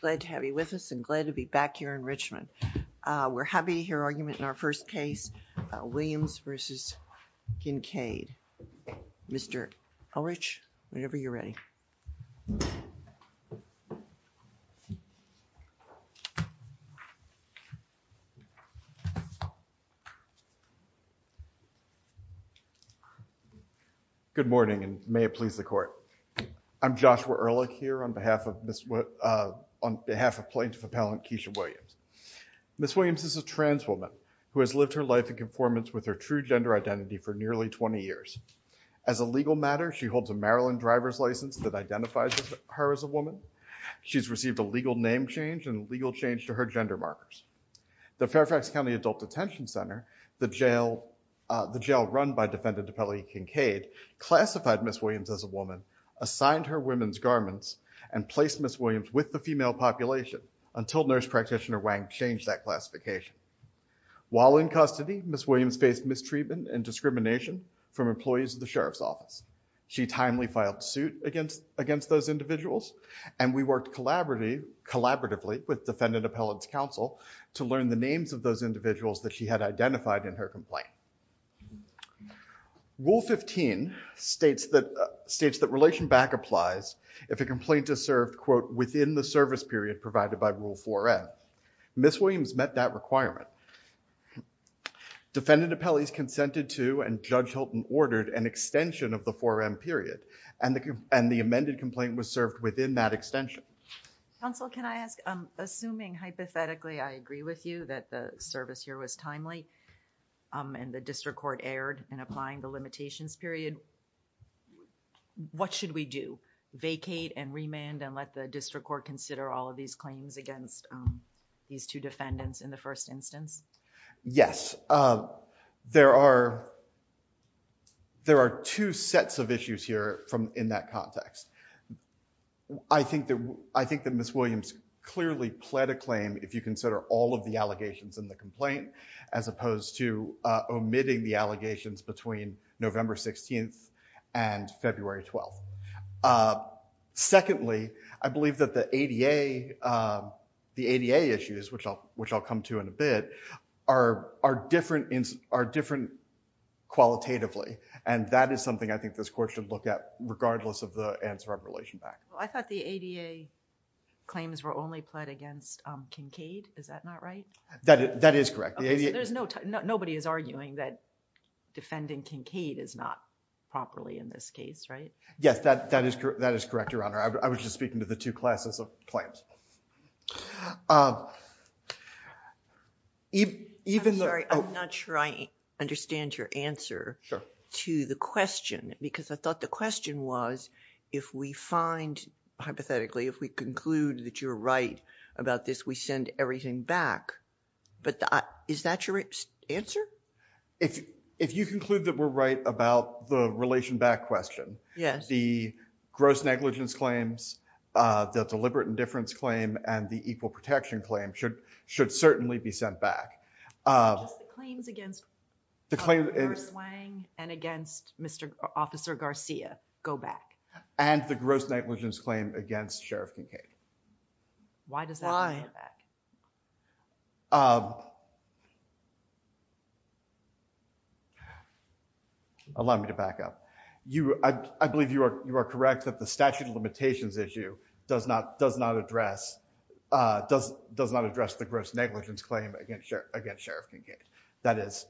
Glad to have you with us and glad to be back here in Richmond. Uh, we're happy to hear argument in our first case, uh, Williams v. Kincaid. Mr. Ulrich, whenever you're ready. Good morning and may it please the Court. I'm Joshua Ulrich here on behalf of Plaintiff Appellant Kesha Williams. Ms. Williams is a trans woman who has lived her life in conformance with her true gender identity for nearly 20 years. As a legal matter, she holds a Maryland driver's license that identifies her as a woman. She's received a legal name change and legal change to her gender markers. The Fairfax County Adult Detention Center, the jail, uh, the jail run by Defendant Appellant Kincaid classified Ms. Williams as a woman, assigned her women's garments, and placed Ms. Williams with the female population until Nurse Practitioner Wang changed that classification. While in custody, Ms. Williams faced mistreatment and discrimination from employees of the Sheriff's Office. She timely filed suit against, against those individuals and we worked collaboratively with Defendant Appellant's counsel to learn the names of those individuals that she had Rule 15 states that, uh, states that relation back applies if a complaint is served, quote, within the service period provided by Rule 4M. Ms. Williams met that requirement. Defendant Appellee's consented to and Judge Hilton ordered an extension of the 4M period and the, and the amended complaint was served within that extension. Counsel, can I ask, um, assuming hypothetically I agree with you that the service here was vacate and remand and let the district court consider all of these claims against, um, these two defendants in the first instance? Yes. Um, there are, there are two sets of issues here from, in that context. I think that, I think that Ms. Williams clearly pled a claim if you consider all of the allegations in the complaint as opposed to, uh, omitting the allegations between November 16th and February 12th. Uh, secondly, I believe that the ADA, um, the ADA issues, which I'll, which I'll come to in a bit, are, are different, are different qualitatively and that is something I think this court should look at regardless of the answer of relation back. Well, I thought the ADA claims were only pled against, um, Kincaid. Is that not right? That, that is correct. The ADA... Okay, so there's no, nobody is arguing that defending Kincaid is not properly in this case, right? Yes, that, that is correct, that is correct, Your Honor. I was just speaking to the two classes of claims. Um, even, even the... I'm sorry, I'm not sure I understand your answer to the question because I thought the question was if we find, hypothetically, if we conclude that you're right about this, we send everything back, but I, is that your answer? If you conclude that we're right about the relation back question, the gross negligence claims, uh, the deliberate indifference claim, and the equal protection claim should, should certainly be sent back. Um... Just the claims against... The claim... Officer Swang and against Mr. Officer Garcia go back. And the gross negligence claim against Sheriff Kincaid. Why does that... Why... Go back. Um... Allow me to back up. You, I, I believe you are, you are correct that the statute of limitations issue does not, does not address, uh, does, does not address the gross negligence claim against Sheriff, against Sheriff Kincaid. That is,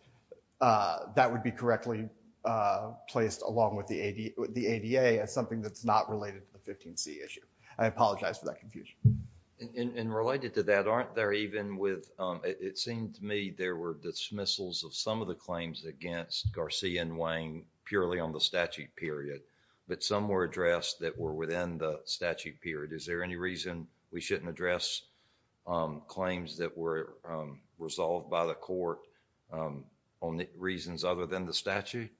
uh, that would be correctly, uh, placed along with the AD, the ADA as something that's not related to the 15C issue. I apologize for that confusion. And related to that, aren't there even with, um, it seems to me there were dismissals of some of the claims against Garcia and Wayne purely on the statute period, but some were addressed that were within the statute period. Is there any reason we shouldn't address, um, claims that were, um, resolved by the court, um, on the reasons other than the statute?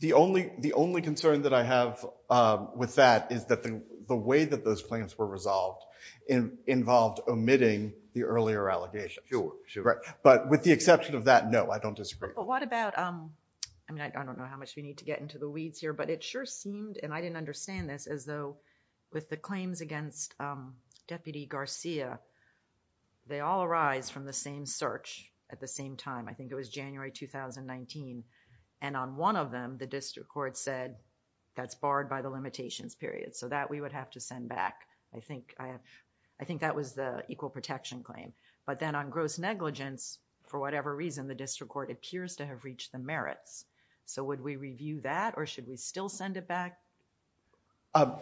The only, the only concern that I have, um, with that is that the, the way that those claims were resolved in, involved omitting the earlier allegations. Sure, sure. Right. But with the exception of that, no, I don't disagree. But what about, um, I mean, I don't know how much we need to get into the weeds here, but it sure seemed, and I didn't understand this, as though with the claims against, um, Deputy Garcia, they all arise from the same search at the same time. I think it was January 2019, and on one of them, the district court said that's barred by the limitations period. So that we would have to send back. I think, I have, I think that was the equal protection claim. But then on gross negligence, for whatever reason, the district court appears to have reached the merits. So would we review that or should we still send it back? Um,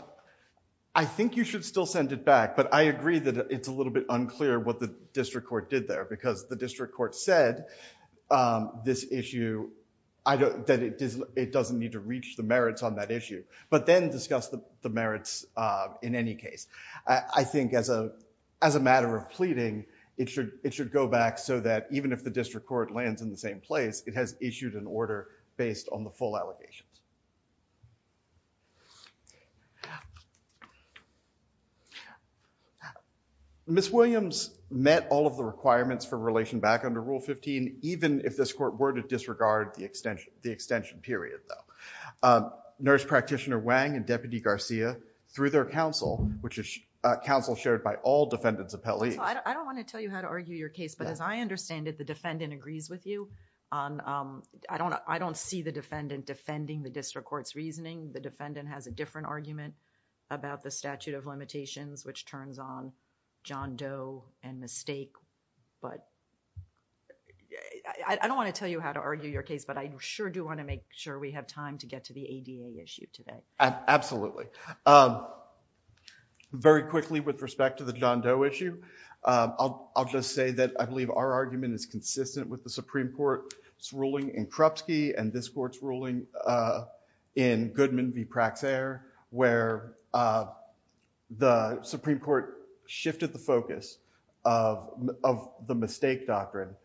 I think you should still send it back, but I agree that it's a little bit unclear what the district court did there, because the district court said, um, this issue, I don't, that it doesn't need to reach the merits on that issue. But then discuss the, the merits, uh, in any case. I, I think as a, as a matter of pleading, it should, it should go back so that even if the district court lands in the same place, it has issued an order based on the full allegations. Thank you. Ms. Williams met all of the requirements for relation back under Rule 15, even if this court were to disregard the extension, the extension period though. Um, Nurse Practitioner Wang and Deputy Garcia, through their counsel, which is, uh, counsel shared by all defendants appellees. Counsel, I don't want to tell you how to argue your case, but as I understand it, the defendant agrees with you on, um, I don't, I don't see the defendant defending the district court's reasoning. The defendant has a different argument about the statute of limitations, which turns on John Doe and the stake, but I, I don't want to tell you how to argue your case, but I sure do want to make sure we have time to get to the ADA issue today. Absolutely. Um, very quickly with respect to the John Doe issue, um, I'll, I'll just say that I believe our argument is consistent with the Supreme Court's ruling in Krupski and this court's ruling, uh, in Goodman v. Praxair, where, uh, the Supreme Court shifted the focus of, of the mistake doctrine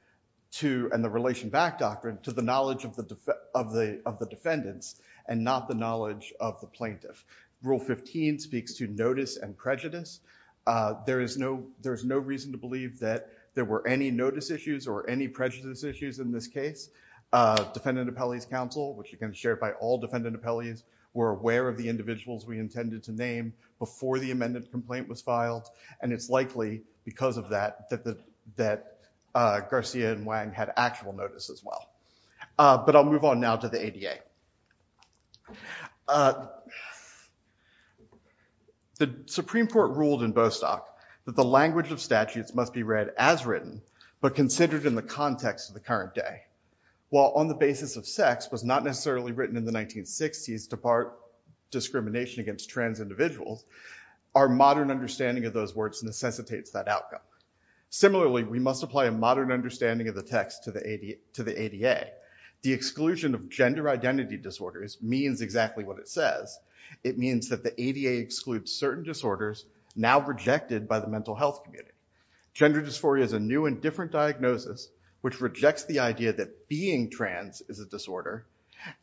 to, and the relation back doctrine to the knowledge of the, of the, of the defendants and not the knowledge of the plaintiff. Rule 15 speaks to notice and prejudice. Uh, there is no, there's no reason to believe that there were any notice issues or any prejudice issues in this case, uh, defendant appellees council, which you can share it by all defendant appellees were aware of the individuals we intended to name before the amended complaint was filed. And it's likely because of that, that the, that, uh, Garcia and Wang had actual notice as well. Uh, but I'll move on now to the ADA, uh, the Supreme Court ruled in Bostock that the language of statutes must be read as written, but considered in the context of the current day, while on the basis of sex was not necessarily written in the 1960s to part discrimination against trans individuals. Our modern understanding of those words necessitates that outcome. Similarly, we must apply a modern understanding of the text to the ADA, to the ADA. The exclusion of gender identity disorders means exactly what it says. It means that the ADA excludes certain disorders now rejected by the mental health community. Gender dysphoria is a new and different diagnosis, which rejects the idea that being trans is a disorder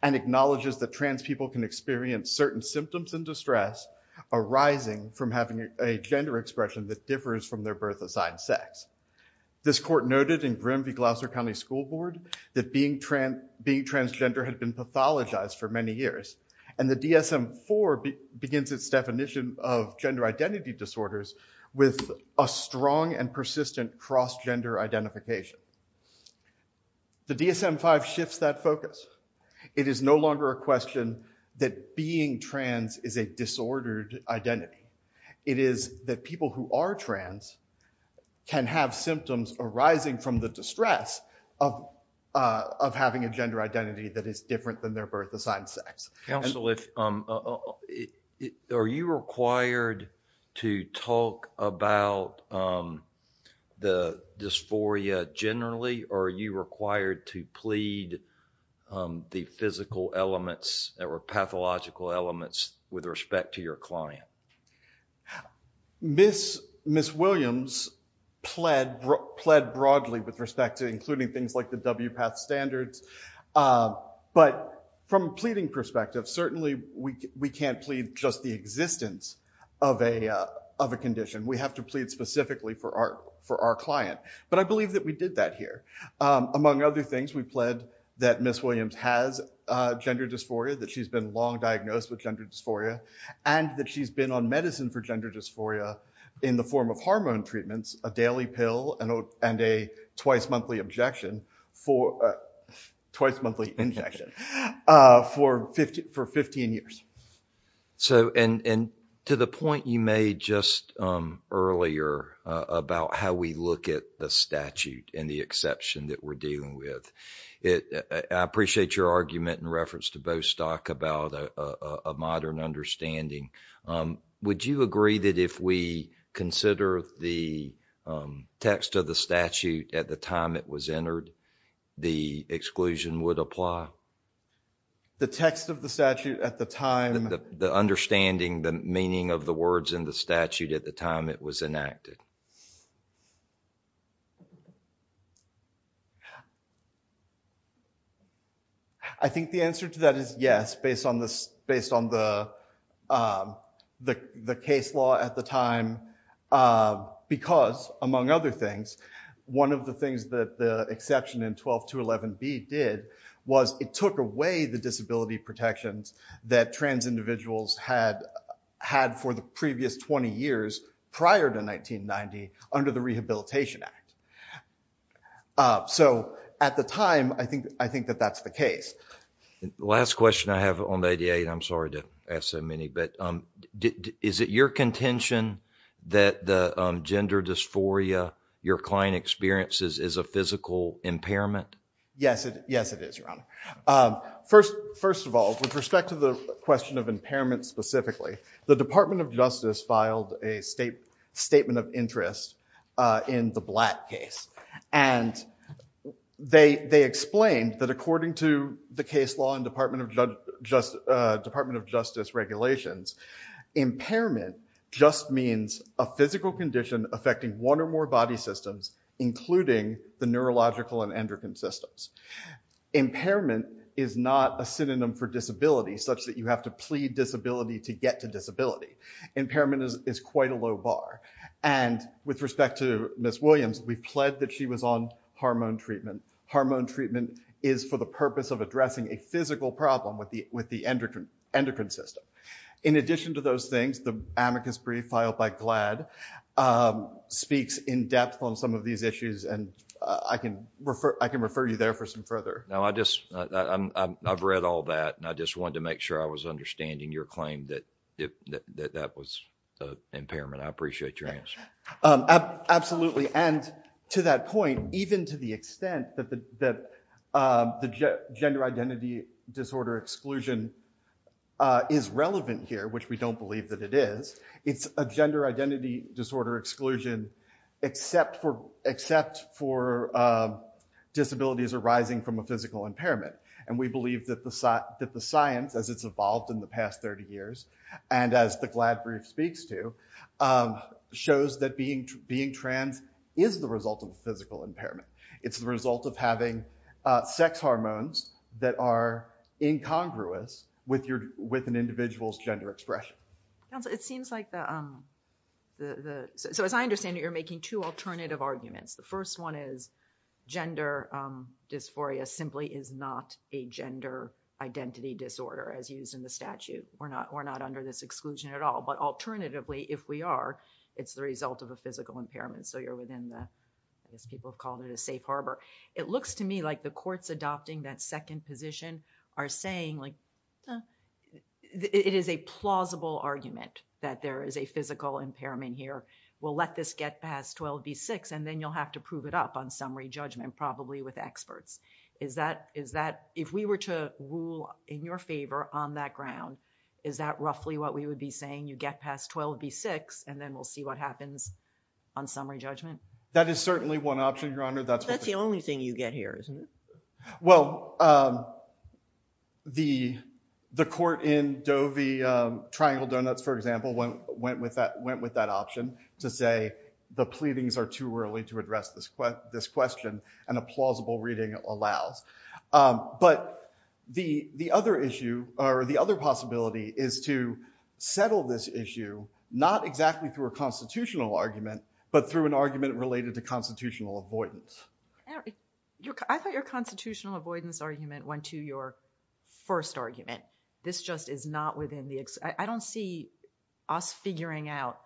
and acknowledges that trans people can experience certain symptoms and distress arising from having a gender expression that differs from their birth assigned sex. This court noted in grim V Gloucester County school board that being trans being transgender had been pathologized for many years. And the DSM four begins its definition of gender identity disorders with a strong and persistent cross gender identification. The DSM five shifts that focus. It is no longer a question that being trans is a disordered identity. It is that people who are trans can have symptoms arising from the distress of, uh, of having a gender identity that is different than their birth assigned sex. Counsel, if, um, uh, are you required to talk about, um, the dysphoria generally, or are you required to plead, um, the physical elements that were pathological elements with respect to your client? Ms. Williams pled, pled broadly with respect to including things like the WPATH standards. Um, but from a pleading perspective, certainly we, we can't plead just the existence of a, uh, of a condition. We have to plead specifically for our, for our client. But I believe that we did that here. Um, among other things, we pled that Ms. Williams has a gender dysphoria, that she's been long medicine for gender dysphoria in the form of hormone treatments, a daily pill, and a twice monthly objection for, uh, twice monthly injection, uh, for 15, for 15 years. So, and, and to the point you made just, um, earlier, uh, about how we look at the statute and the exception that we're dealing with, it, uh, I appreciate your argument in reference to Bostock about, uh, uh, a modern understanding. Um, would you agree that if we consider the, um, text of the statute at the time it was entered, the exclusion would apply? The text of the statute at the time. The understanding, the meaning of the words in the statute at the time it was enacted. I think the answer to that is yes, based on the, based on the, um, the, the case law at the time, uh, because among other things, one of the things that the exception in 12211B did was it took away the disability protections that trans individuals had, had for the previous 20 years prior to 1990 under the Rehabilitation Act. Uh, so at the time, I think, I think that that's the case. Last question I have on the ADA, and I'm sorry to ask so many, but, um, is it your contention that the, um, gender dysphoria your client experiences is a physical impairment? Yes, it, yes it is, Your Honor. Um, first, first of all, with respect to the question of impairment specifically, the Department of Justice filed a state, statement of interest, uh, in the Blatt case, and they, they explained that according to the case law and Department of Judge, uh, Department of Justice regulations, impairment just means a physical condition affecting one or more body systems, including the neurological and endocrine systems. Impairment is not a synonym for disability such that you have to plead disability to get to disability. Impairment is, is quite a low bar. And with respect to Ms. Williams, we pled that she was on hormone treatment. Hormone treatment is for the purpose of addressing a physical problem with the, with the endocrine, endocrine system. In addition to those things, the amicus brief filed by GLAD, um, speaks in depth on some of these issues, and I can refer, I can refer you there for some further. No, I just, I, I'm, I'm, I've read all that, and I just wanted to make sure I was understanding your claim that, that, that, that was, uh, impairment. I appreciate your answer. Um, absolutely. And to that point, even to the extent that the, that, um, the gender identity disorder exclusion, uh, is relevant here, which we don't believe that it is, it's a gender identity disorder exclusion except for, except for, um, disabilities arising from a physical impairment. And we believe that the, that the science, as it's evolved in the past 30 years, and as the GLAD brief speaks to, um, shows that being, being trans is the result of a physical impairment. It's the result of having, uh, sex hormones that are incongruous with your, with an individual's gender expression. Counsel, it seems like the, um, the, the, so as I understand it, you're making two alternative arguments. The first one is gender, um, dysphoria simply is not a gender identity disorder as used in the statute. We're not, we're not under this exclusion at all, but alternatively, if we are, it's the result of a physical impairment. So you're within the, as people have called it, a safe harbor. It looks to me like the courts adopting that second position are saying, like, eh, it is a plausible argument that there is a physical impairment here. We'll let this get past 12 v. 6 and then you'll have to prove it up on summary judgment, probably with experts. Is that, is that, if we were to rule in your favor on that ground, is that roughly what we would be saying? You get past 12 v. 6 and then we'll see what happens on summary judgment? That is certainly one option, Your Honor. That's the only thing you get here, isn't it? Well, um, the, the court in Doe v., um, Triangle Donuts, for example, went, went with that, went with that option to say the pleadings are too early to address this, this question and a plausible reading allows. Um, but the, the other issue, or the other possibility is to settle this issue, not exactly through a constitutional argument, but through an argument related to constitutional avoidance. I thought your constitutional avoidance argument went to your first argument. This just is not within the, I don't see us figuring out.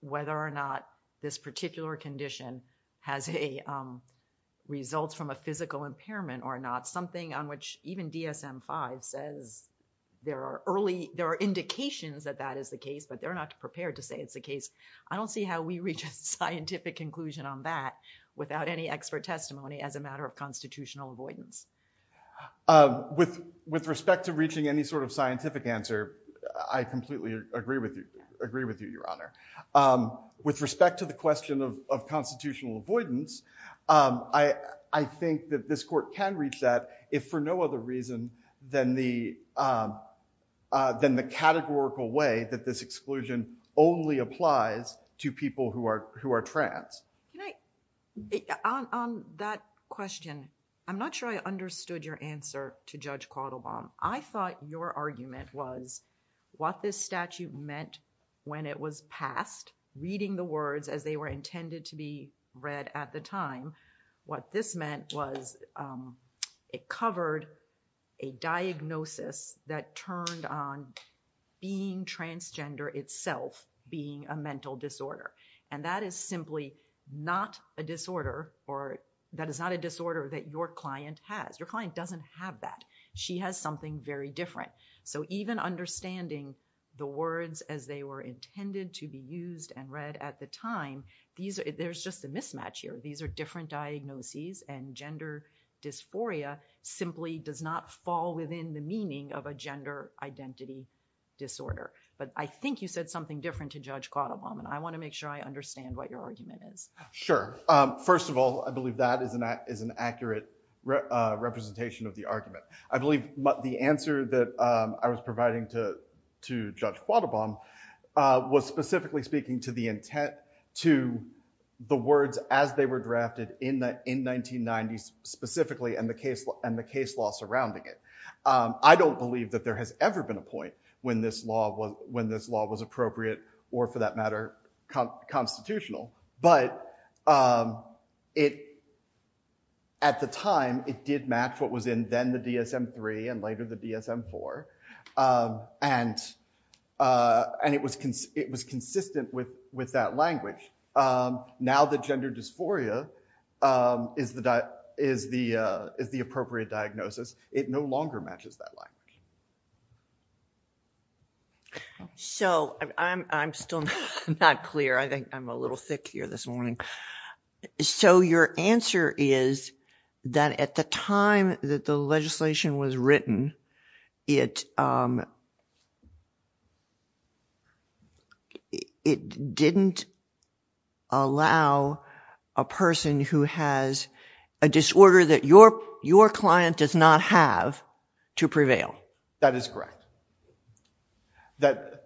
Whether or not this particular condition has a, um, results from a physical impairment or not. Something on which even DSM-5 says there are early, there are indications that that is the case, but they're not prepared to say it's the case. I don't see how we reach a scientific conclusion on that without any expert testimony as a matter of constitutional avoidance. Um, with, with respect to reaching any sort of scientific answer, I completely agree with you, agree with you, your honor. Um, with respect to the question of, of constitutional avoidance, um, I, I think that this court can reach that if for no other reason than the, um, uh, than the categorical way that this exclusion only applies to people who are, who are trans. Can I, on, on that question, I'm not sure I understood your answer to Judge Quattlebaum. I thought your argument was what this statute meant when it was passed, reading the words as they were intended to be read at the time. What this meant was, um, it covered a diagnosis that turned on being transgender itself being a mental disorder. And that is simply not a disorder or that is not a disorder that your client has. Your client doesn't have that. She has something very different. So even understanding the words as they were intended to be used and read at the time, these are, there's just a mismatch here. These are different diagnoses and gender dysphoria simply does not fall within the meaning of a gender identity disorder. But I think you said something different to Judge Quattlebaum and I want to make sure I understand what your argument is. Sure. First of all, I believe that is an, is an accurate representation of the argument. I believe the answer that I was providing to, to Judge Quattlebaum was specifically speaking to the intent to the words as they were drafted in the, in 1990s specifically and the case and the case law surrounding it. I don't believe that there has ever been a point when this law was, when this law was appropriate or for that matter constitutional. But it, at the time it did match what was in then the DSM-III and later the DSM-IV. And it was, it was consistent with, with that language. Now that gender dysphoria is the, is the, is the appropriate diagnosis. It no longer matches that language. So I'm, I'm still not clear. I think I'm a little thick here this morning. So your answer is that at the time that the legislation was written, it, it didn't allow a person who has a disorder that your, your client does not have to prevail. That is correct. That,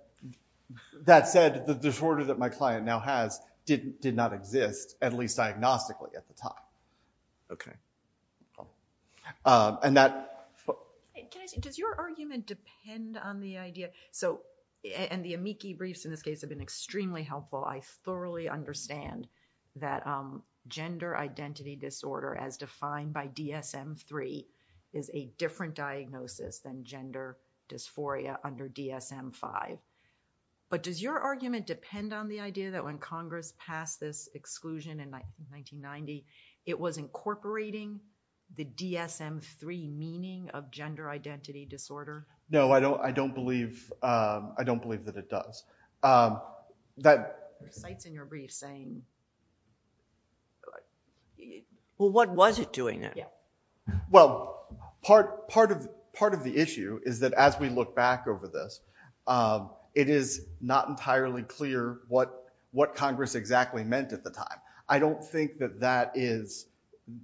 that said, the disorder that my client now has didn't, did not exist at least diagnostically at the time. Okay. And that. Can I say, does your argument depend on the idea, so, and the amici briefs in this case have been extremely helpful. I thoroughly understand that gender identity disorder as defined by DSM-III is a different diagnosis than gender dysphoria under DSM-V, but does your argument depend on the idea that when Congress passed this exclusion in 1990, it was incorporating the DSM-III meaning of gender identity disorder? No, I don't. I don't believe, I don't believe that it does. That. There are sites in your brief saying, well, what was it doing then? Yeah. Well, part, part of, part of the issue is that as we look back over this, it is not entirely clear what, what Congress exactly meant at the time. I don't think that that is,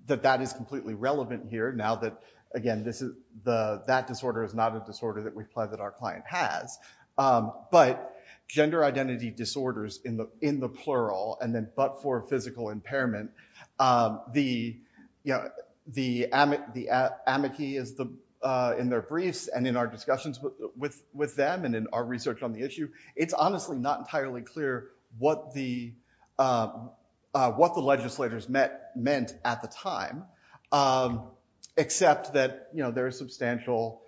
that that is completely relevant here now that again, this is the, that disorder is not a disorder that we've pledged that our client has. But gender identity disorders in the, in the plural, and then, but for physical impairment, the, you know, the amic, the amici is the, in their briefs and in our discussions with, with them and in our research on the issue, it's honestly not entirely clear what the, what the legislators met, meant at the time, except that, you know, there is substantial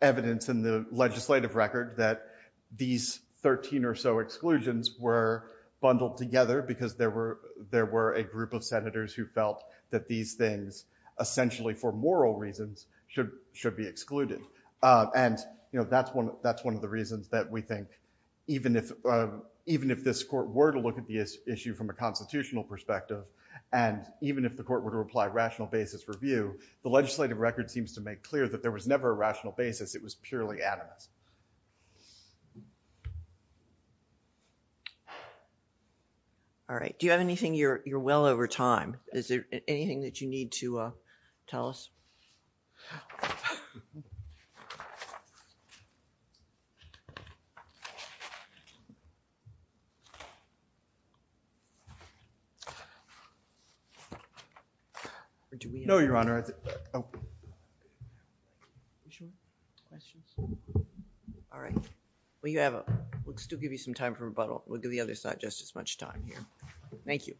evidence in the legislative record that these 13 or so exclusions were bundled together because there were, there were a group of senators who felt that these things essentially for moral reasons should, should be excluded. And you know, that's one, that's one of the reasons that we think even if, even if this court were to look at the issue from a constitutional perspective, and even if the court were to apply rational basis review, the legislative record seems to make clear that there was never a rational basis. It was purely animus. All right. Do you have anything? You're, you're well over time. Is there anything that you need to tell us? No, Your Honor. Are you sure? Questions? All right. Well, you have, we'll still give you some time for rebuttal. We'll give the other side just as much time here. Thank you.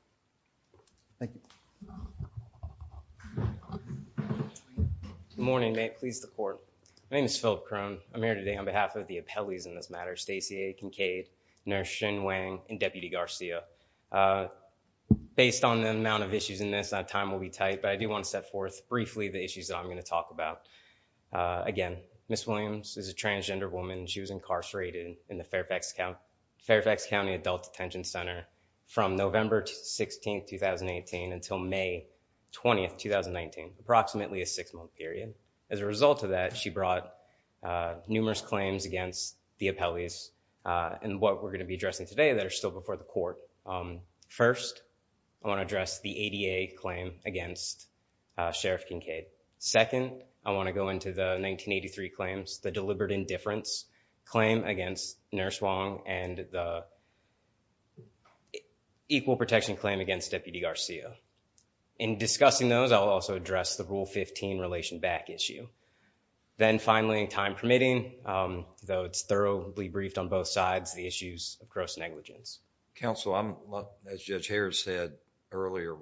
Good morning, may it please the court. My name is Phillip Crone. I'm here today on behalf of the appellees in this matter, Stacey A. Kincaid, Nurse Xin Wang, and Deputy Garcia. Based on the amount of issues in this, our time will be tight, but I do want to set forth briefly the issues that I'm going to talk about. Again, Ms. Williams is a transgender woman. She was incarcerated in the Fairfax County Adult Detention Center from November to September 16th, 2018 until May 20th, 2019, approximately a six-month period. As a result of that, she brought numerous claims against the appellees and what we're going to be addressing today that are still before the court. First, I want to address the ADA claim against Sheriff Kincaid. Second, I want to go into the 1983 claims, the deliberate indifference claim against Nurse Wang, and the equal protection claim against Deputy Garcia. In discussing those, I'll also address the Rule 15 Relation Back issue. Then finally, time permitting, though it's thoroughly briefed on both sides, the issues of gross negligence. Counsel, I'm, as Judge Harris said earlier,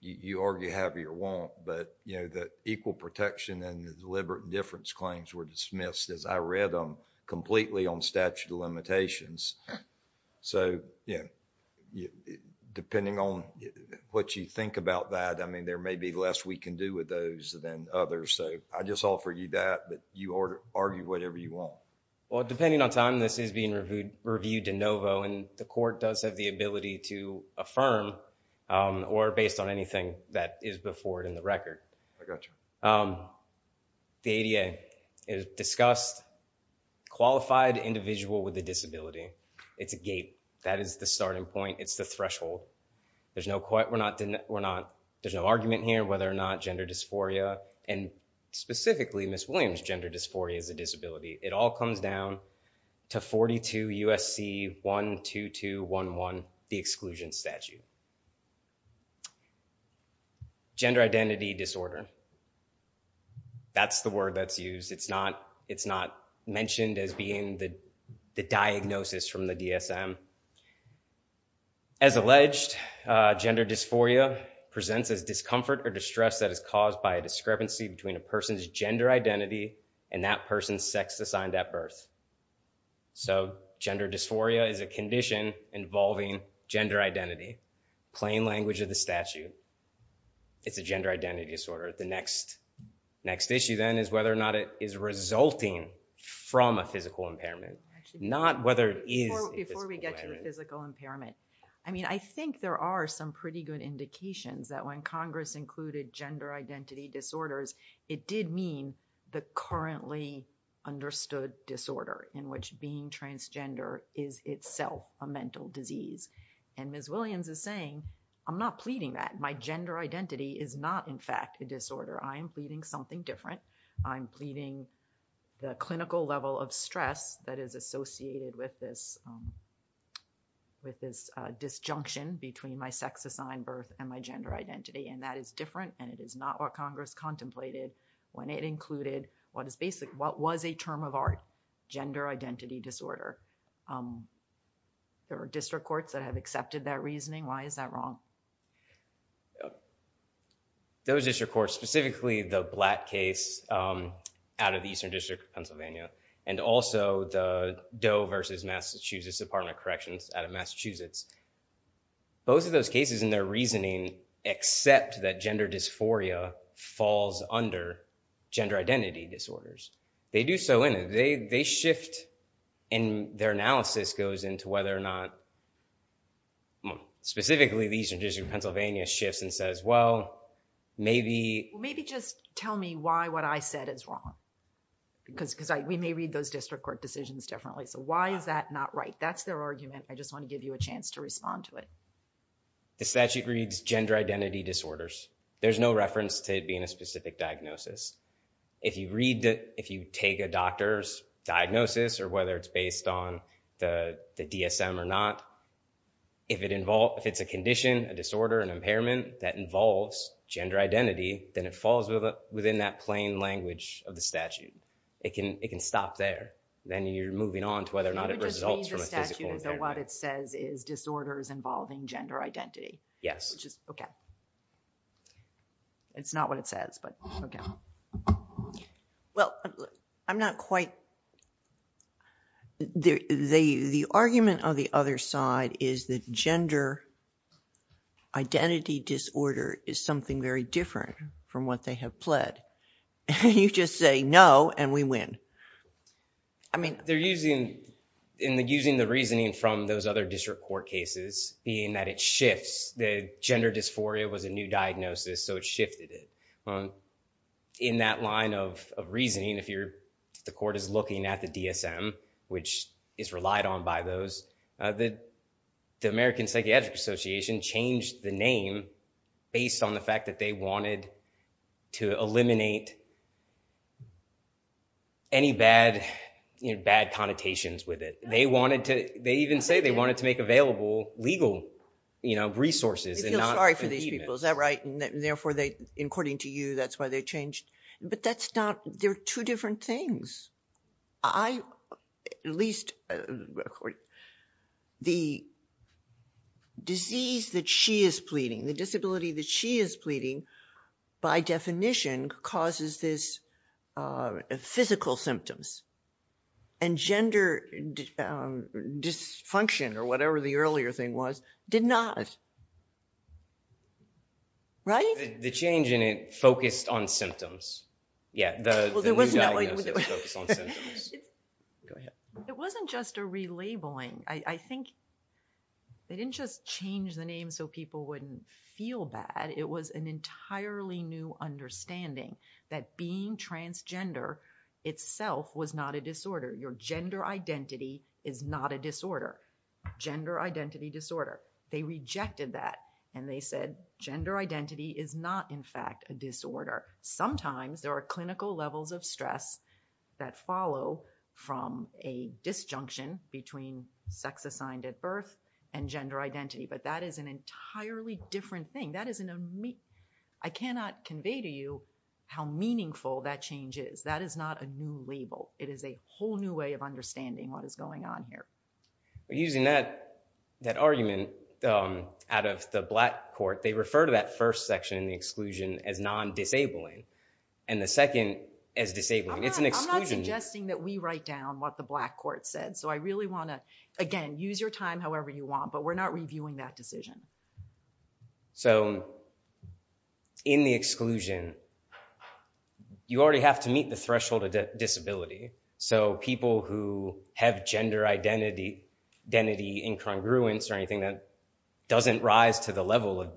you argue have or you won't, but, you know, the equal protection and the deliberate indifference claims were dismissed as I read them completely on statute of limitations. So, yeah, depending on what you think about that, I mean, there may be less we can do with those than others. So, I just offer you that, but you argue whatever you want. Well, depending on time, this is being reviewed de novo and the court does have the ability to affirm or based on anything that is before it in the record. I got you. The ADA discussed qualified individual with a disability. It's a gate. That is the starting point. It's the threshold. There's no argument here whether or not gender dysphoria and specifically Miss Williams' gender dysphoria is a disability. It all comes down to 42 U.S.C. 12211, the exclusion statute. Gender identity disorder. That's the word that's used. It's not mentioned as being the diagnosis from the DSM. As alleged, gender dysphoria presents as discomfort or distress that is caused by a discrepancy between a person's gender identity and that person's sex assigned at birth. So, gender dysphoria is a condition involving gender identity, plain language of the statute. It's a gender identity disorder. The next issue then is whether or not it is resulting from a physical impairment, not whether it is a physical impairment. Before we get to the physical impairment, I mean, I think there are some pretty good indications that when Congress included gender identity disorders, it did mean the currently understood disorder in which being transgender is itself a mental disease. And Miss Williams is saying, I'm not pleading that. My gender identity is not, in fact, a disorder. I am pleading something different. I'm pleading the clinical level of stress that is associated with this disjunction between my sex assigned birth and my gender identity, and that is different, and it is not what was a term of art, gender identity disorder. There are district courts that have accepted that reasoning. Why is that wrong? Those district courts, specifically the Blatt case out of the Eastern District of Pennsylvania and also the Doe versus Massachusetts Department of Corrections out of Massachusetts, both of those cases in their reasoning accept that gender dysphoria falls under gender identity disorders. They do so in it. They shift, and their analysis goes into whether or not, specifically the Eastern District of Pennsylvania shifts and says, well, maybe... Maybe just tell me why what I said is wrong, because we may read those district court decisions differently. So why is that not right? That's their argument. I just want to give you a chance to respond to it. The statute reads gender identity disorders. There's no reference to it being a specific diagnosis. If you take a doctor's diagnosis or whether it's based on the DSM or not, if it's a condition, a disorder, an impairment that involves gender identity, then it falls within that plain language of the statute. It can stop there. Then you're moving on to whether or not it results from a physical impairment. So it just reads the statute as though what it says is disorders involving gender identity? Yes. Okay. It's not what it says, but okay. Well, I'm not quite... The argument of the other side is that gender identity disorder is something very different from what they have pled. You just say no, and we win. I mean... They're using the reasoning from those other district court cases, being that it shifts. The gender dysphoria was a new diagnosis, so it shifted it. In that line of reasoning, if the court is looking at the DSM, which is relied on by those, the American Psychiatric Association changed the name based on the fact that they wanted to eliminate any bad connotations with it. They even say they wanted to make available legal resources and not... I feel sorry for these people. Is that right? And therefore, according to you, that's why they changed... But that's not... They're two different things. At least the disease that she is pleading, the disability that she is pleading, by definition causes this physical symptoms. And gender dysfunction, or whatever the earlier thing was, did not. Right? The change in it focused on symptoms. Yeah, the new diagnosis focused on symptoms. Go ahead. It wasn't just a relabeling. I think they didn't just change the name so people wouldn't feel bad. It was an entirely new understanding that being transgender itself was not a disorder. Your gender identity is not a disorder. Gender identity disorder. They rejected that and they said gender identity is not, in fact, a disorder. Sometimes there are clinical levels of stress that follow from a disjunction between sex assigned at birth and gender identity. But that is an entirely different thing. I cannot convey to you how meaningful that change is. That is not a new label. It is a whole new way of understanding what is going on here. Using that argument out of the black court, they refer to that first section in the exclusion as non-disabling and the second as disabling. It's an exclusion. I'm not suggesting that we write down what the black court said. So I really want to, again, use your time however you want, but we're not reviewing that decision. So in the exclusion, you already have to meet the threshold of disability. So people who have gender identity incongruence or anything that doesn't rise to the level of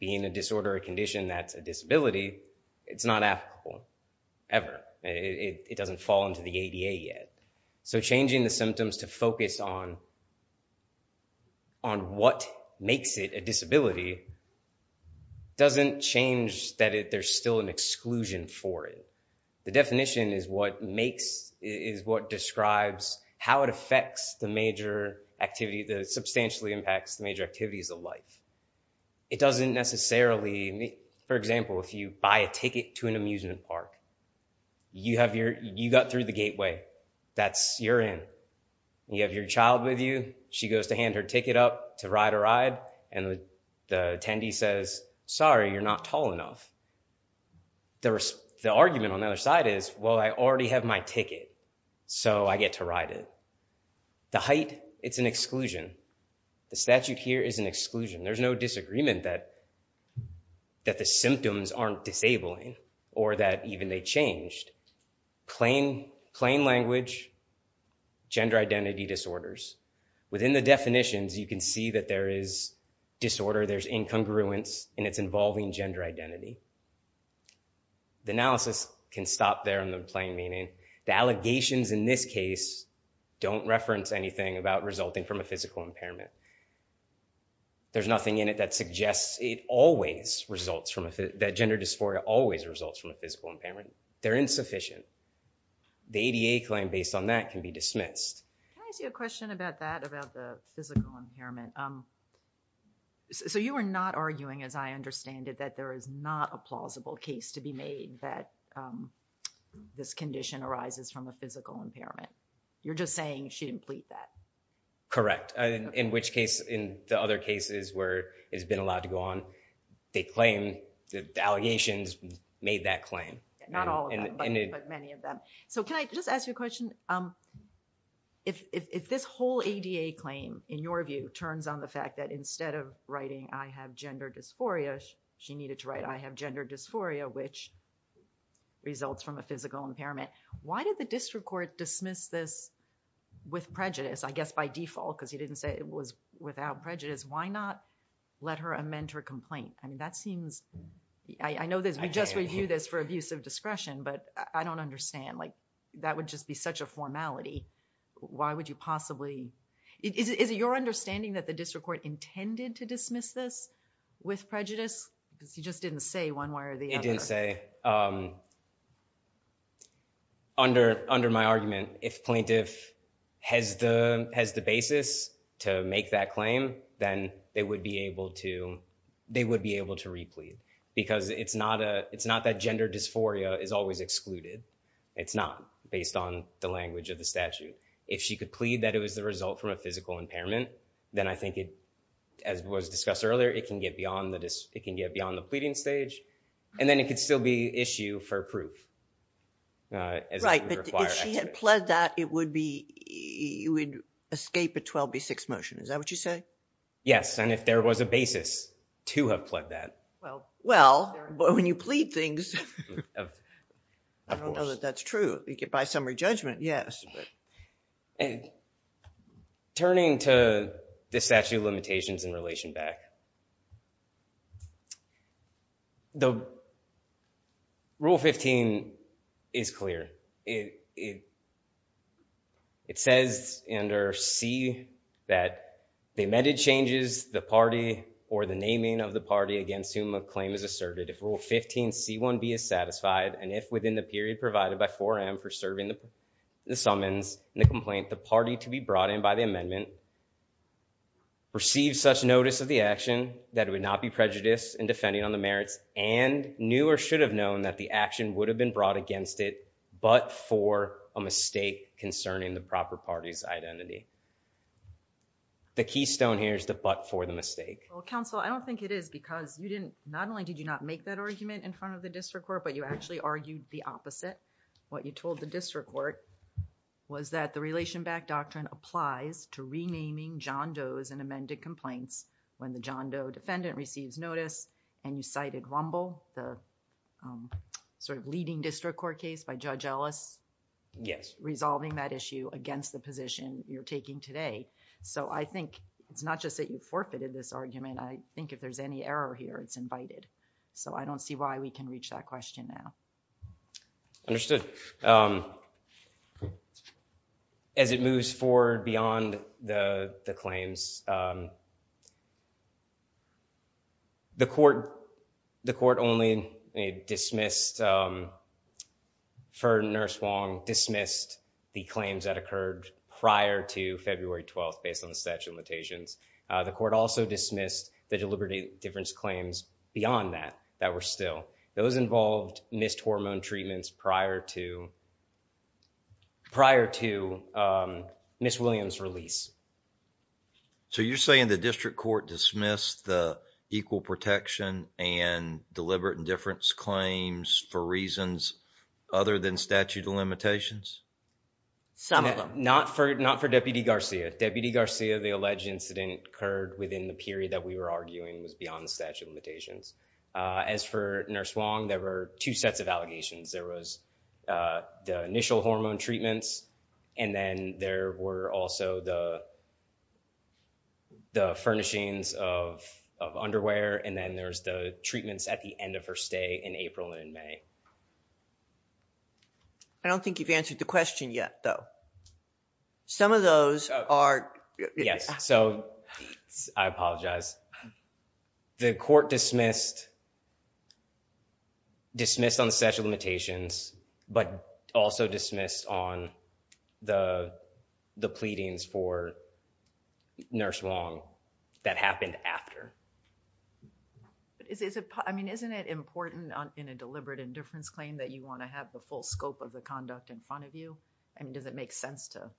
being a disorder or condition that's a disability, it's not applicable ever. It doesn't fall into the ADA yet. So changing the symptoms to focus on what makes it a disability doesn't change that there's still an exclusion for it. The definition is what describes how it affects the major activity that substantially impacts the major activities of life. It doesn't necessarily, for example, if you buy a ticket to an amusement park, you got to run through the gateway. That's, you're in. You have your child with you, she goes to hand her ticket up to ride a ride, and the attendee says, sorry, you're not tall enough. The argument on the other side is, well, I already have my ticket, so I get to ride it. The height, it's an exclusion. The statute here is an exclusion. There's no disagreement that the symptoms aren't disabling or that even they changed. Plain language, gender identity disorders. Within the definitions, you can see that there is disorder, there's incongruence, and it's involving gender identity. The analysis can stop there in the plain meaning. The allegations in this case don't reference anything about resulting from a physical impairment. There's nothing in it that suggests that gender dysphoria always results from a physical impairment. They're insufficient. The ADA claim based on that can be dismissed. Can I ask you a question about that, about the physical impairment? So you are not arguing, as I understand it, that there is not a plausible case to be made that this condition arises from a physical impairment. You're just saying she didn't plead that. Correct, in which case, in the other cases where it's been allowed to go on, they claim Again, the allegations made that claim. Not all of them, but many of them. So can I just ask you a question? If this whole ADA claim, in your view, turns on the fact that instead of writing, I have gender dysphoria, she needed to write, I have gender dysphoria, which results from a physical impairment. Why did the district court dismiss this with prejudice? I guess by default, because he didn't say it was without prejudice. Why not let her amend her complaint? I mean, that seems, I know this, we just reviewed this for abuse of discretion, but I don't understand. That would just be such a formality. Why would you possibly? Is it your understanding that the district court intended to dismiss this with prejudice? Because he just didn't say one way or the other. It didn't say. Under my argument, if plaintiff has the basis to make that claim, then they would be able to, they would be able to re-plead. Because it's not that gender dysphoria is always excluded. It's not, based on the language of the statute. If she could plead that it was the result from a physical impairment, then I think it, as was discussed earlier, it can get beyond the pleading stage. And then it could still be issue for proof. Right, but if she had pled that, it would be, it would escape a 12B6 motion. Is that what you say? Yes, and if there was a basis to have pled that. Well, when you plead things, I don't know that that's true. By summary judgment, yes. Turning to the statute of limitations in relation back. The Rule 15 is clear. It says under C that the amended changes the party or the naming of the party against whom a claim is asserted, if Rule 15C1B is satisfied, and if within the period provided by 4M for serving the summons and the complaint, the party to be brought in by the amendment, receive such notice of the action that it would not be prejudiced in defending on the merits and knew or should have known that the action would have been brought against it but for a mistake concerning the proper party's identity. The keystone here is the but for the mistake. Well, counsel, I don't think it is because you didn't, not only did you not make that argument in front of the district court, but you actually argued the opposite. What you told the district court was that the relation back doctrine applies to renaming John Doe's and amended complaints when the John Doe defendant receives notice and you cited Rumble, the sort of leading district court case by Judge Ellis. Yes. Resolving that issue against the position you're taking today. So I think it's not just that you forfeited this argument. I think if there's any error here, it's invited. So I don't see why we can reach that question now. Understood. As it moves forward beyond the claims, the court only dismissed for Nurse Wong, dismissed the claims that occurred prior to February 12th based on the statute of limitations. The court also dismissed the deliberate difference claims beyond that, that were still. Those involved missed hormone treatments prior to prior to Miss Williams release. So you're saying the district court dismissed the equal protection and deliberate indifference claims for reasons other than statute of limitations? Some of them. Not for Deputy Garcia. Deputy Garcia, the alleged incident occurred within the period that we were arguing was beyond statute of limitations. As for Nurse Wong, there were two sets of allegations. There was the initial hormone treatments and then there were also the furnishings of underwear. And then there's the treatments at the end of her stay in April and May. I don't think you've answered the question yet, though. Some of those are. Yes. So I apologize. The court dismissed on the statute of limitations, but also dismissed on the pleadings for Nurse Wong that happened after. I mean, isn't it important in a deliberate indifference claim that you want to have the full scope of the conduct in front of you? I mean, does it make sense to,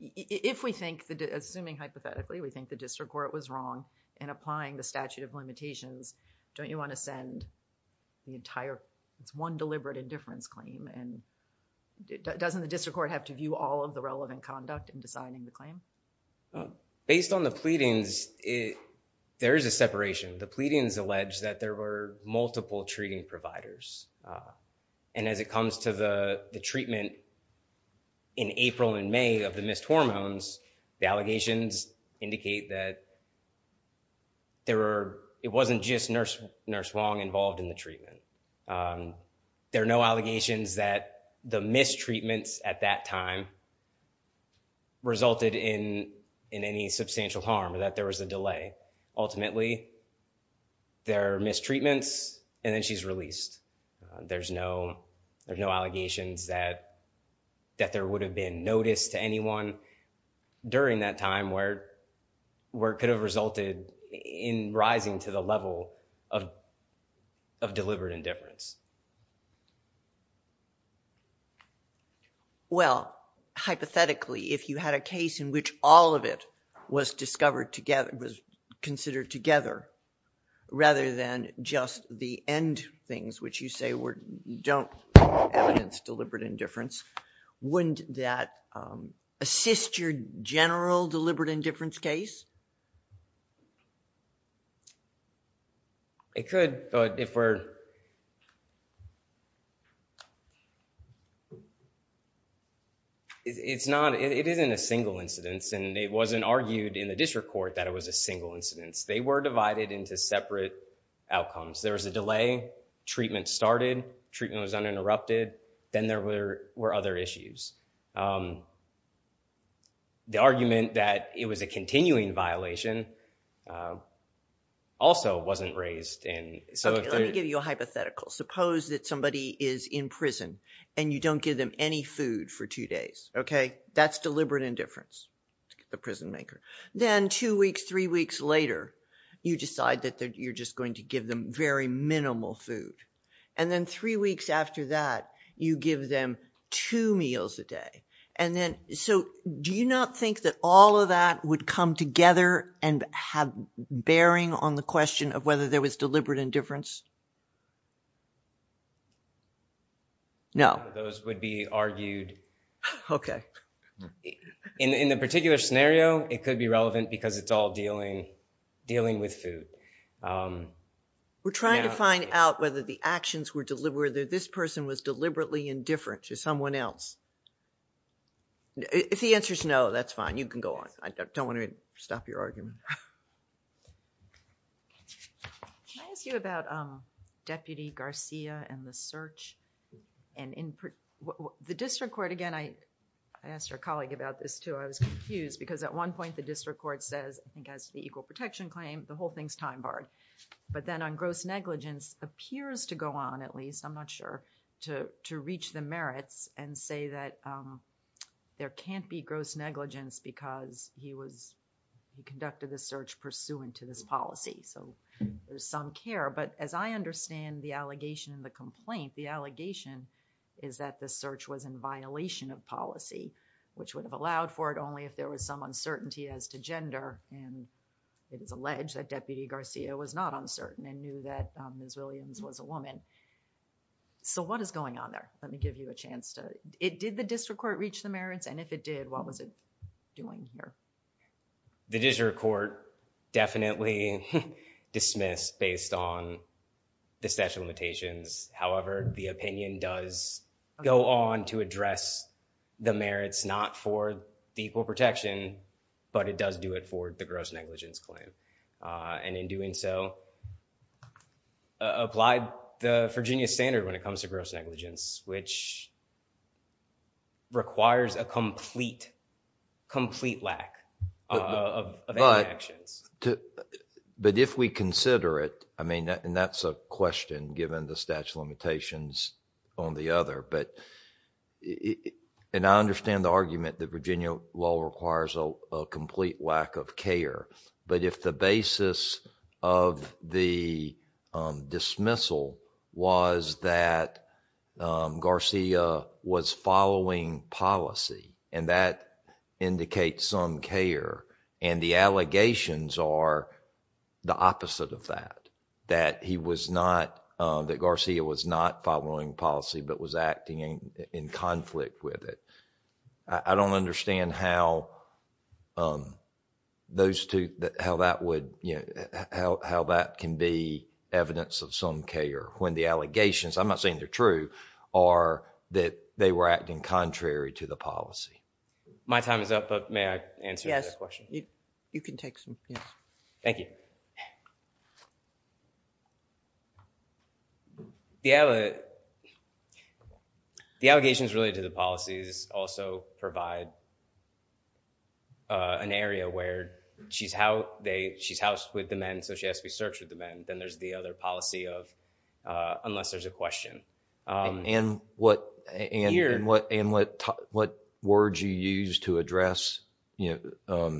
if we think, assuming hypothetically, we think the district court was wrong in applying the statute of limitations, don't you want to send the entire, it's one deliberate indifference claim? And doesn't the district court have to view all of the relevant conduct in deciding the claim? Based on the pleadings, there is a separation. The pleadings allege that there were multiple treating providers. And as it comes to the treatment in April and May of the missed hormones, the allegations indicate that there were, it wasn't just Nurse Wong involved in the treatment. There are no allegations that the mistreatments at that time resulted in any substantial harm, that there was a delay. Ultimately, there are mistreatments, and then she's released. There's no allegations that there would have been notice to anyone during that time where it could have resulted in rising to the level of deliberate indifference. Well, hypothetically, if you had a case in which all of it was discovered together, was considered together, rather than just the end things, which you say were, don't evidence deliberate indifference, wouldn't that assist your general deliberate indifference case? It could, but if we're... It's not, it isn't a single incidence, and it wasn't argued in the district court that it was a single incidence. They were divided into separate outcomes. There was a delay, treatment started, treatment was uninterrupted, then there were other issues. The argument that it was a continuing violation also wasn't raised in... Let me give you a hypothetical. Suppose that somebody is in prison, and you don't give them any food for two days. That's deliberate indifference, the prison maker. Then two weeks, three weeks later, you decide that you're just going to give them very minimal food. Then three weeks after that, you give them two meals a day. Do you not think that all of that would come together and have bearing on the question of whether there was deliberate indifference? No. Those would be argued. Okay. In the particular scenario, it could be relevant because it's all dealing with food. We're trying to find out whether the actions were deliberate, whether this person was deliberately indifferent to someone else. If the answer is no, that's fine. You can go on. I don't want to stop your argument. Can I ask you about Deputy Garcia and the search? The district court, again, I asked our colleague about this too. I think it's the equal protection claim. The whole thing is time barred. Then on gross negligence, appears to go on at least, I'm not sure, to reach the merits and say that there can't be gross negligence because he conducted the search pursuant to this policy. There's some care. As I understand the allegation and the complaint, the allegation is that the search was in violation of policy, which would have allowed for it to occur. It is alleged that Deputy Garcia was not uncertain and knew that Ms. Williams was a woman. What is going on there? Let me give you a chance to... Did the district court reach the merits? If it did, what was it doing here? The district court definitely dismissed based on the statute of limitations. However, the opinion does go on to address the merits not for the equal protection, but it does do it for the gross negligence claim. In doing so, applied the Virginia standard when it comes to gross negligence, which requires a complete, complete lack of any actions. If we consider it, and that's a question given the statute of limitations on the other. I understand the argument that Virginia law requires a complete lack of care, but if the basis of the dismissal was that Garcia was following policy and that indicates some care and the allegations are the opposite of that, that Garcia was not following policy but was acting in conflict with it. I don't understand how that can be evidence of some care when the allegations, I'm not saying they're true, are that they were acting contrary to the policy. My time is up, but may I answer that question? Yes. You can take some, yes. Thank you. The allegations related to the policies also provide an area where she's housed with the men, so she has to be searched with the men. Then there's the other policy of, unless there's a question. Here. What words you use to address Ms.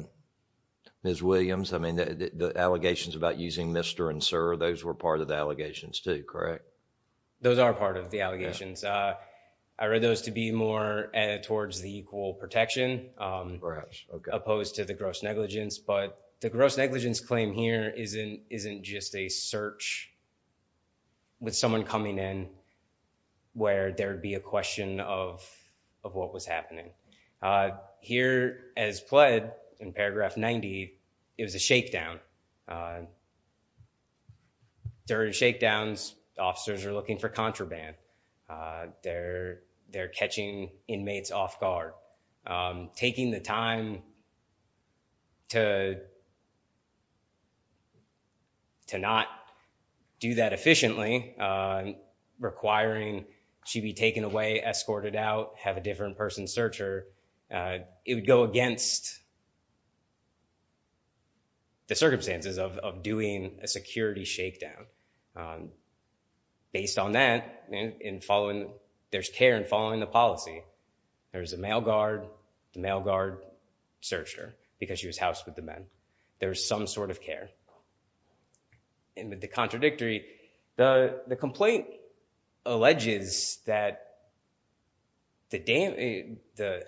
Williams? The allegations about using Mr. and Sir, those were part of the allegations too, correct? Those are part of the allegations. I read those to be more towards the equal protection. Perhaps. Opposed to the gross negligence, but the gross negligence claim here isn't just a search with someone coming in where there would be a question of what was happening. Here as pled in paragraph 90, it was a shakedown. During shakedowns, officers are looking for contraband. They're catching inmates off guard. Taking the time to not do that efficiently, requiring she be taken away, escorted out, have a different person search her, it would go against the circumstances of doing a security shakedown. Based on that, there's care in following the policy. There's a mail guard. The mail guard searched her because she was housed with the men. There's some sort of care. In the contradictory, the complaint alleges that the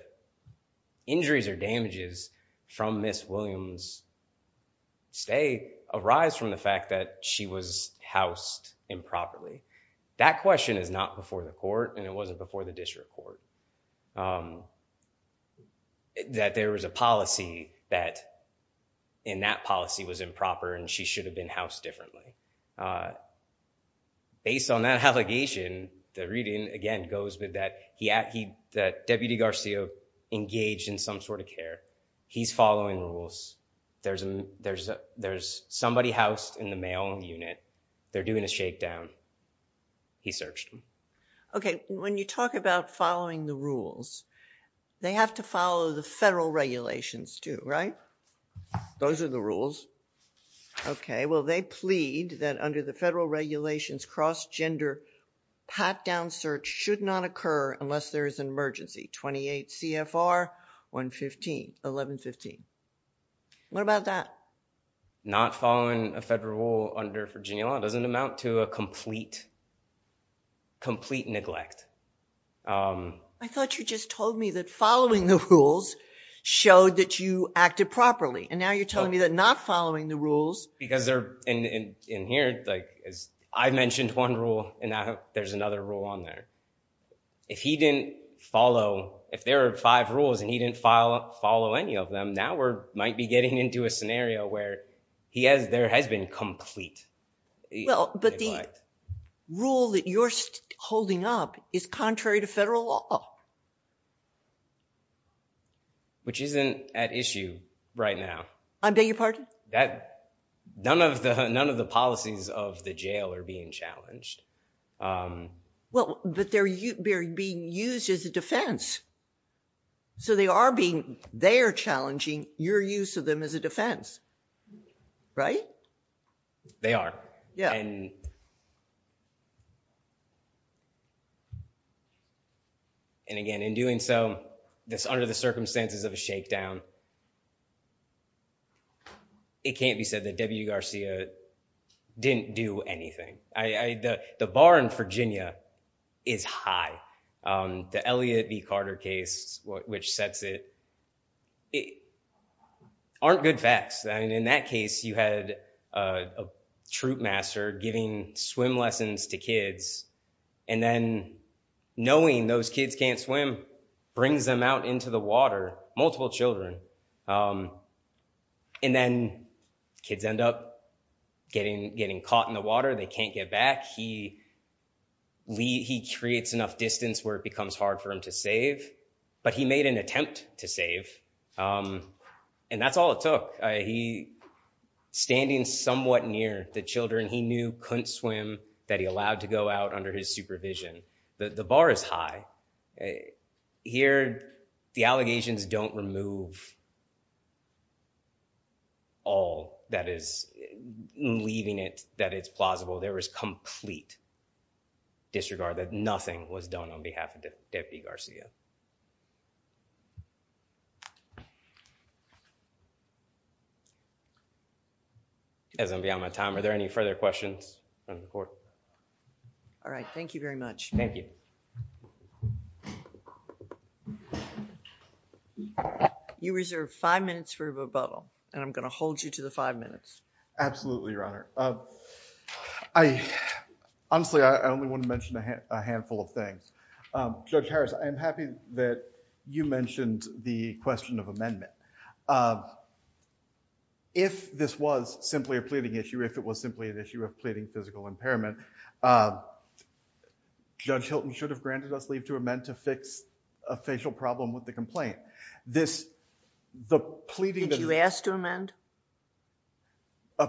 injuries or damages from Ms. Williams' stay arise from the fact that she was housed improperly. That question is not before the court and it wasn't before the district court. That there was a policy that in that policy was improper and she should have been housed differently. Based on that allegation, the reading again goes with that Deputy Garcia engaged in some sort of care. He's following rules. There's somebody housed in the mail unit. They're doing a shakedown. He searched them. Okay. When you talk about following the rules, they have to follow the federal regulations too, right? Those are the rules. Okay. Well, they plead that under the federal regulations, cross-gender pat-down search should not occur unless there is an emergency. 28 CFR 115, 1115. What about that? Not following a federal rule under Virginia law doesn't amount to a complete neglect. I thought you just told me that following the rules showed that you acted properly. Now you're telling me that not following the rules. Because in here, I mentioned one rule and now there's another rule on there. If he didn't follow, if there are five rules and he didn't follow any of them, now we might be getting into a scenario where there has been a complete neglect. Well, but the rule that you're holding up is contrary to federal law. Which isn't at issue right now. I beg your pardon? None of the policies of the jail are being challenged. Well, but they're being used as a defense. So they are being, they are challenging your use of them as a defense. Right? They are. And again, in doing so, under the circumstances of a shakedown, it can't be said that W. Garcia didn't do anything. The bar in Virginia is high. The Elliott v. Carter case, which sets it, aren't good facts. In that case, you had a troop master giving swim lessons to kids. And then knowing those kids can't swim brings them out into the water, multiple children. And then kids end up getting caught in the water. They can't get back. He creates enough distance where it becomes hard for him to save. But he made an attempt to save. And that's all it took. He, standing somewhat near the children he knew couldn't swim, that he allowed to go out under his supervision. The bar is high. Here, the allegations don't remove all that is leaving it that it's plausible. There is complete disregard that nothing was done on behalf of Deputy Garcia. As I'm beyond my time, are there any further questions from the Court? All right. Thank you very much. Thank you. You reserve five minutes for rebuttal. And I'm going to hold you to the five minutes. Absolutely, Your Honor. Honestly, I only want to mention a handful of things. Judge Harris, I'm happy that you mentioned the question of amendment. If this was simply a pleading issue, if it was simply an issue of pleading physical impairment, Judge Hilton should have granted us leave to amend to fix a facial problem with the complaint. Did you ask to amend?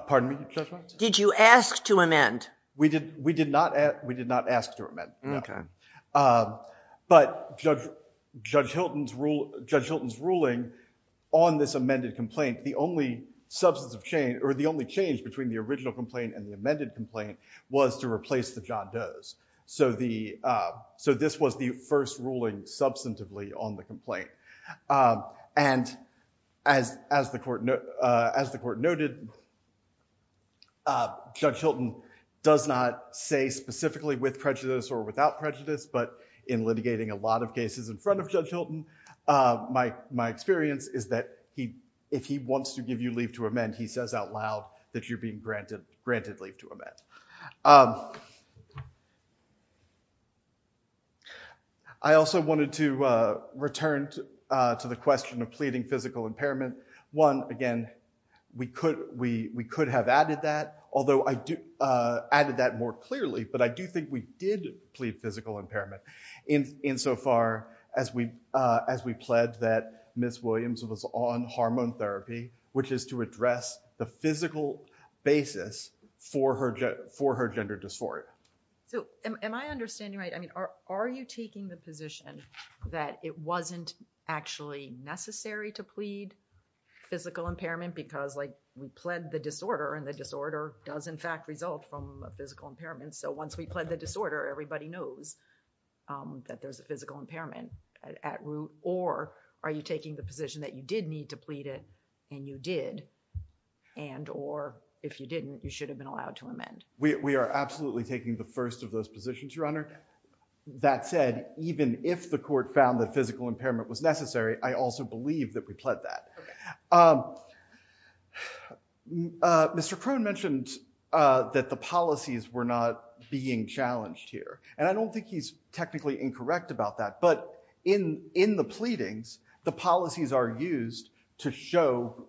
Pardon me, Judge Harris? Did you ask to amend? We did not ask to amend, no. But Judge Hilton's ruling on this amended complaint, the only change between the original complaint and the amended complaint was to replace the John Does. So this was the first ruling substantively on the complaint. And as the Court noted, Judge Hilton does not say specifically with prejudice or without prejudice, but in litigating a lot of cases in front of Judge Hilton, my experience is that if he wants to give you leave to amend, he says out loud that you're being granted leave to amend. I also wanted to return to the question of pleading physical impairment. One, again, we could have added that, although I added that more clearly, but I do think we did plead physical impairment insofar as we pled that Ms. Williams was on hormone therapy, which is to address the for her gender dysphoria. So am I understanding right? I mean, are you taking the position that it wasn't actually necessary to plead physical impairment because like we pled the disorder and the disorder does in fact result from a physical impairment. So once we pled the disorder, everybody knows that there's a physical impairment at root or are you taking the position that you did need to plead it and you did and or if you didn't, you should have been allowed to amend. We are absolutely taking the first of those positions, Your Honor. That said, even if the court found that physical impairment was necessary, I also believe that we pled that. Mr. Crone mentioned that the policies were not being challenged here, and I don't think he's technically incorrect about that. But in the pleadings, the policies are used to show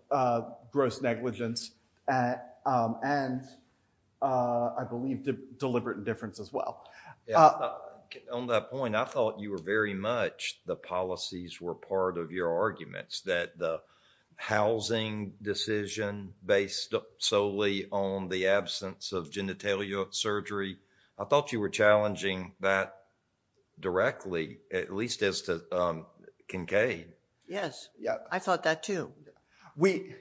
gross negligence and I believe deliberate indifference as well. On that point, I thought you were very much the policies were part of your arguments that the housing decision based solely on the absence of genitalia surgery. I thought you were challenging that directly, at least as to Kincaid. Yes. I thought that too. We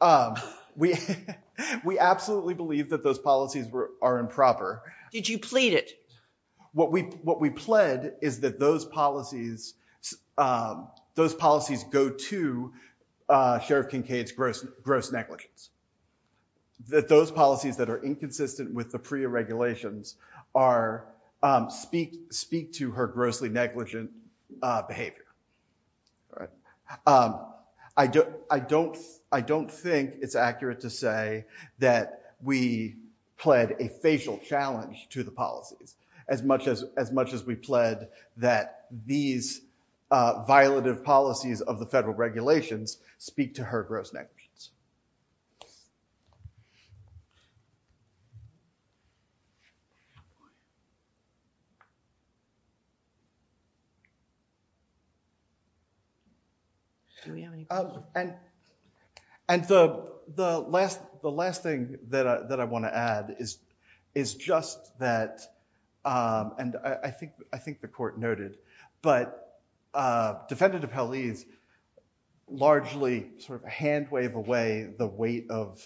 absolutely believe that those policies are improper. Did you plead it? What we pled is that those policies go to Sheriff Kincaid's gross negligence. That those policies that are inconsistent with the PREA regulations speak to her grossly negligent behavior. All right. I don't think it's accurate to say that we pled a facial challenge to the policies as much as we pled that these violative policies of the federal Do we have any questions? The last thing that I want to add is just that, and I think the court noted, but Defendant Appellee is largely sort of a hand wave away the weight of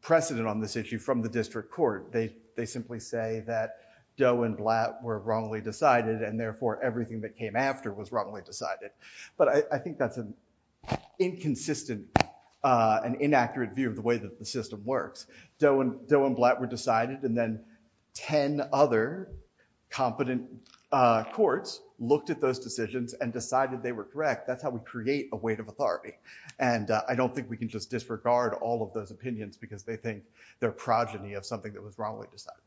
precedent on this issue from the district court. They simply say that Doe and Blatt were wrongly decided and therefore everything that came after was wrongly decided. But I think that's an inconsistent and inaccurate view of the way that the system works. Doe and Blatt were decided and then 10 other competent courts looked at those decisions and decided they were correct. That's how we create a weight of authority. And I don't think we can just disregard all of those opinions because they think they're progeny of something that was wrongly decided.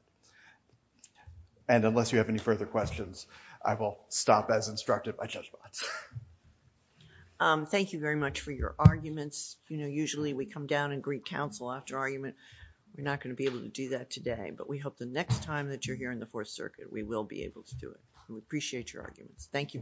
And unless you have any further questions, I will stop as instructed by Judge Botts. Thank you very much for your arguments. You know, usually we come down and greet counsel after argument. We're not going to be able to do that today, but we hope the next time that you're here in the Fourth Circuit, we will be able to do it. We appreciate your arguments. Thank you very much.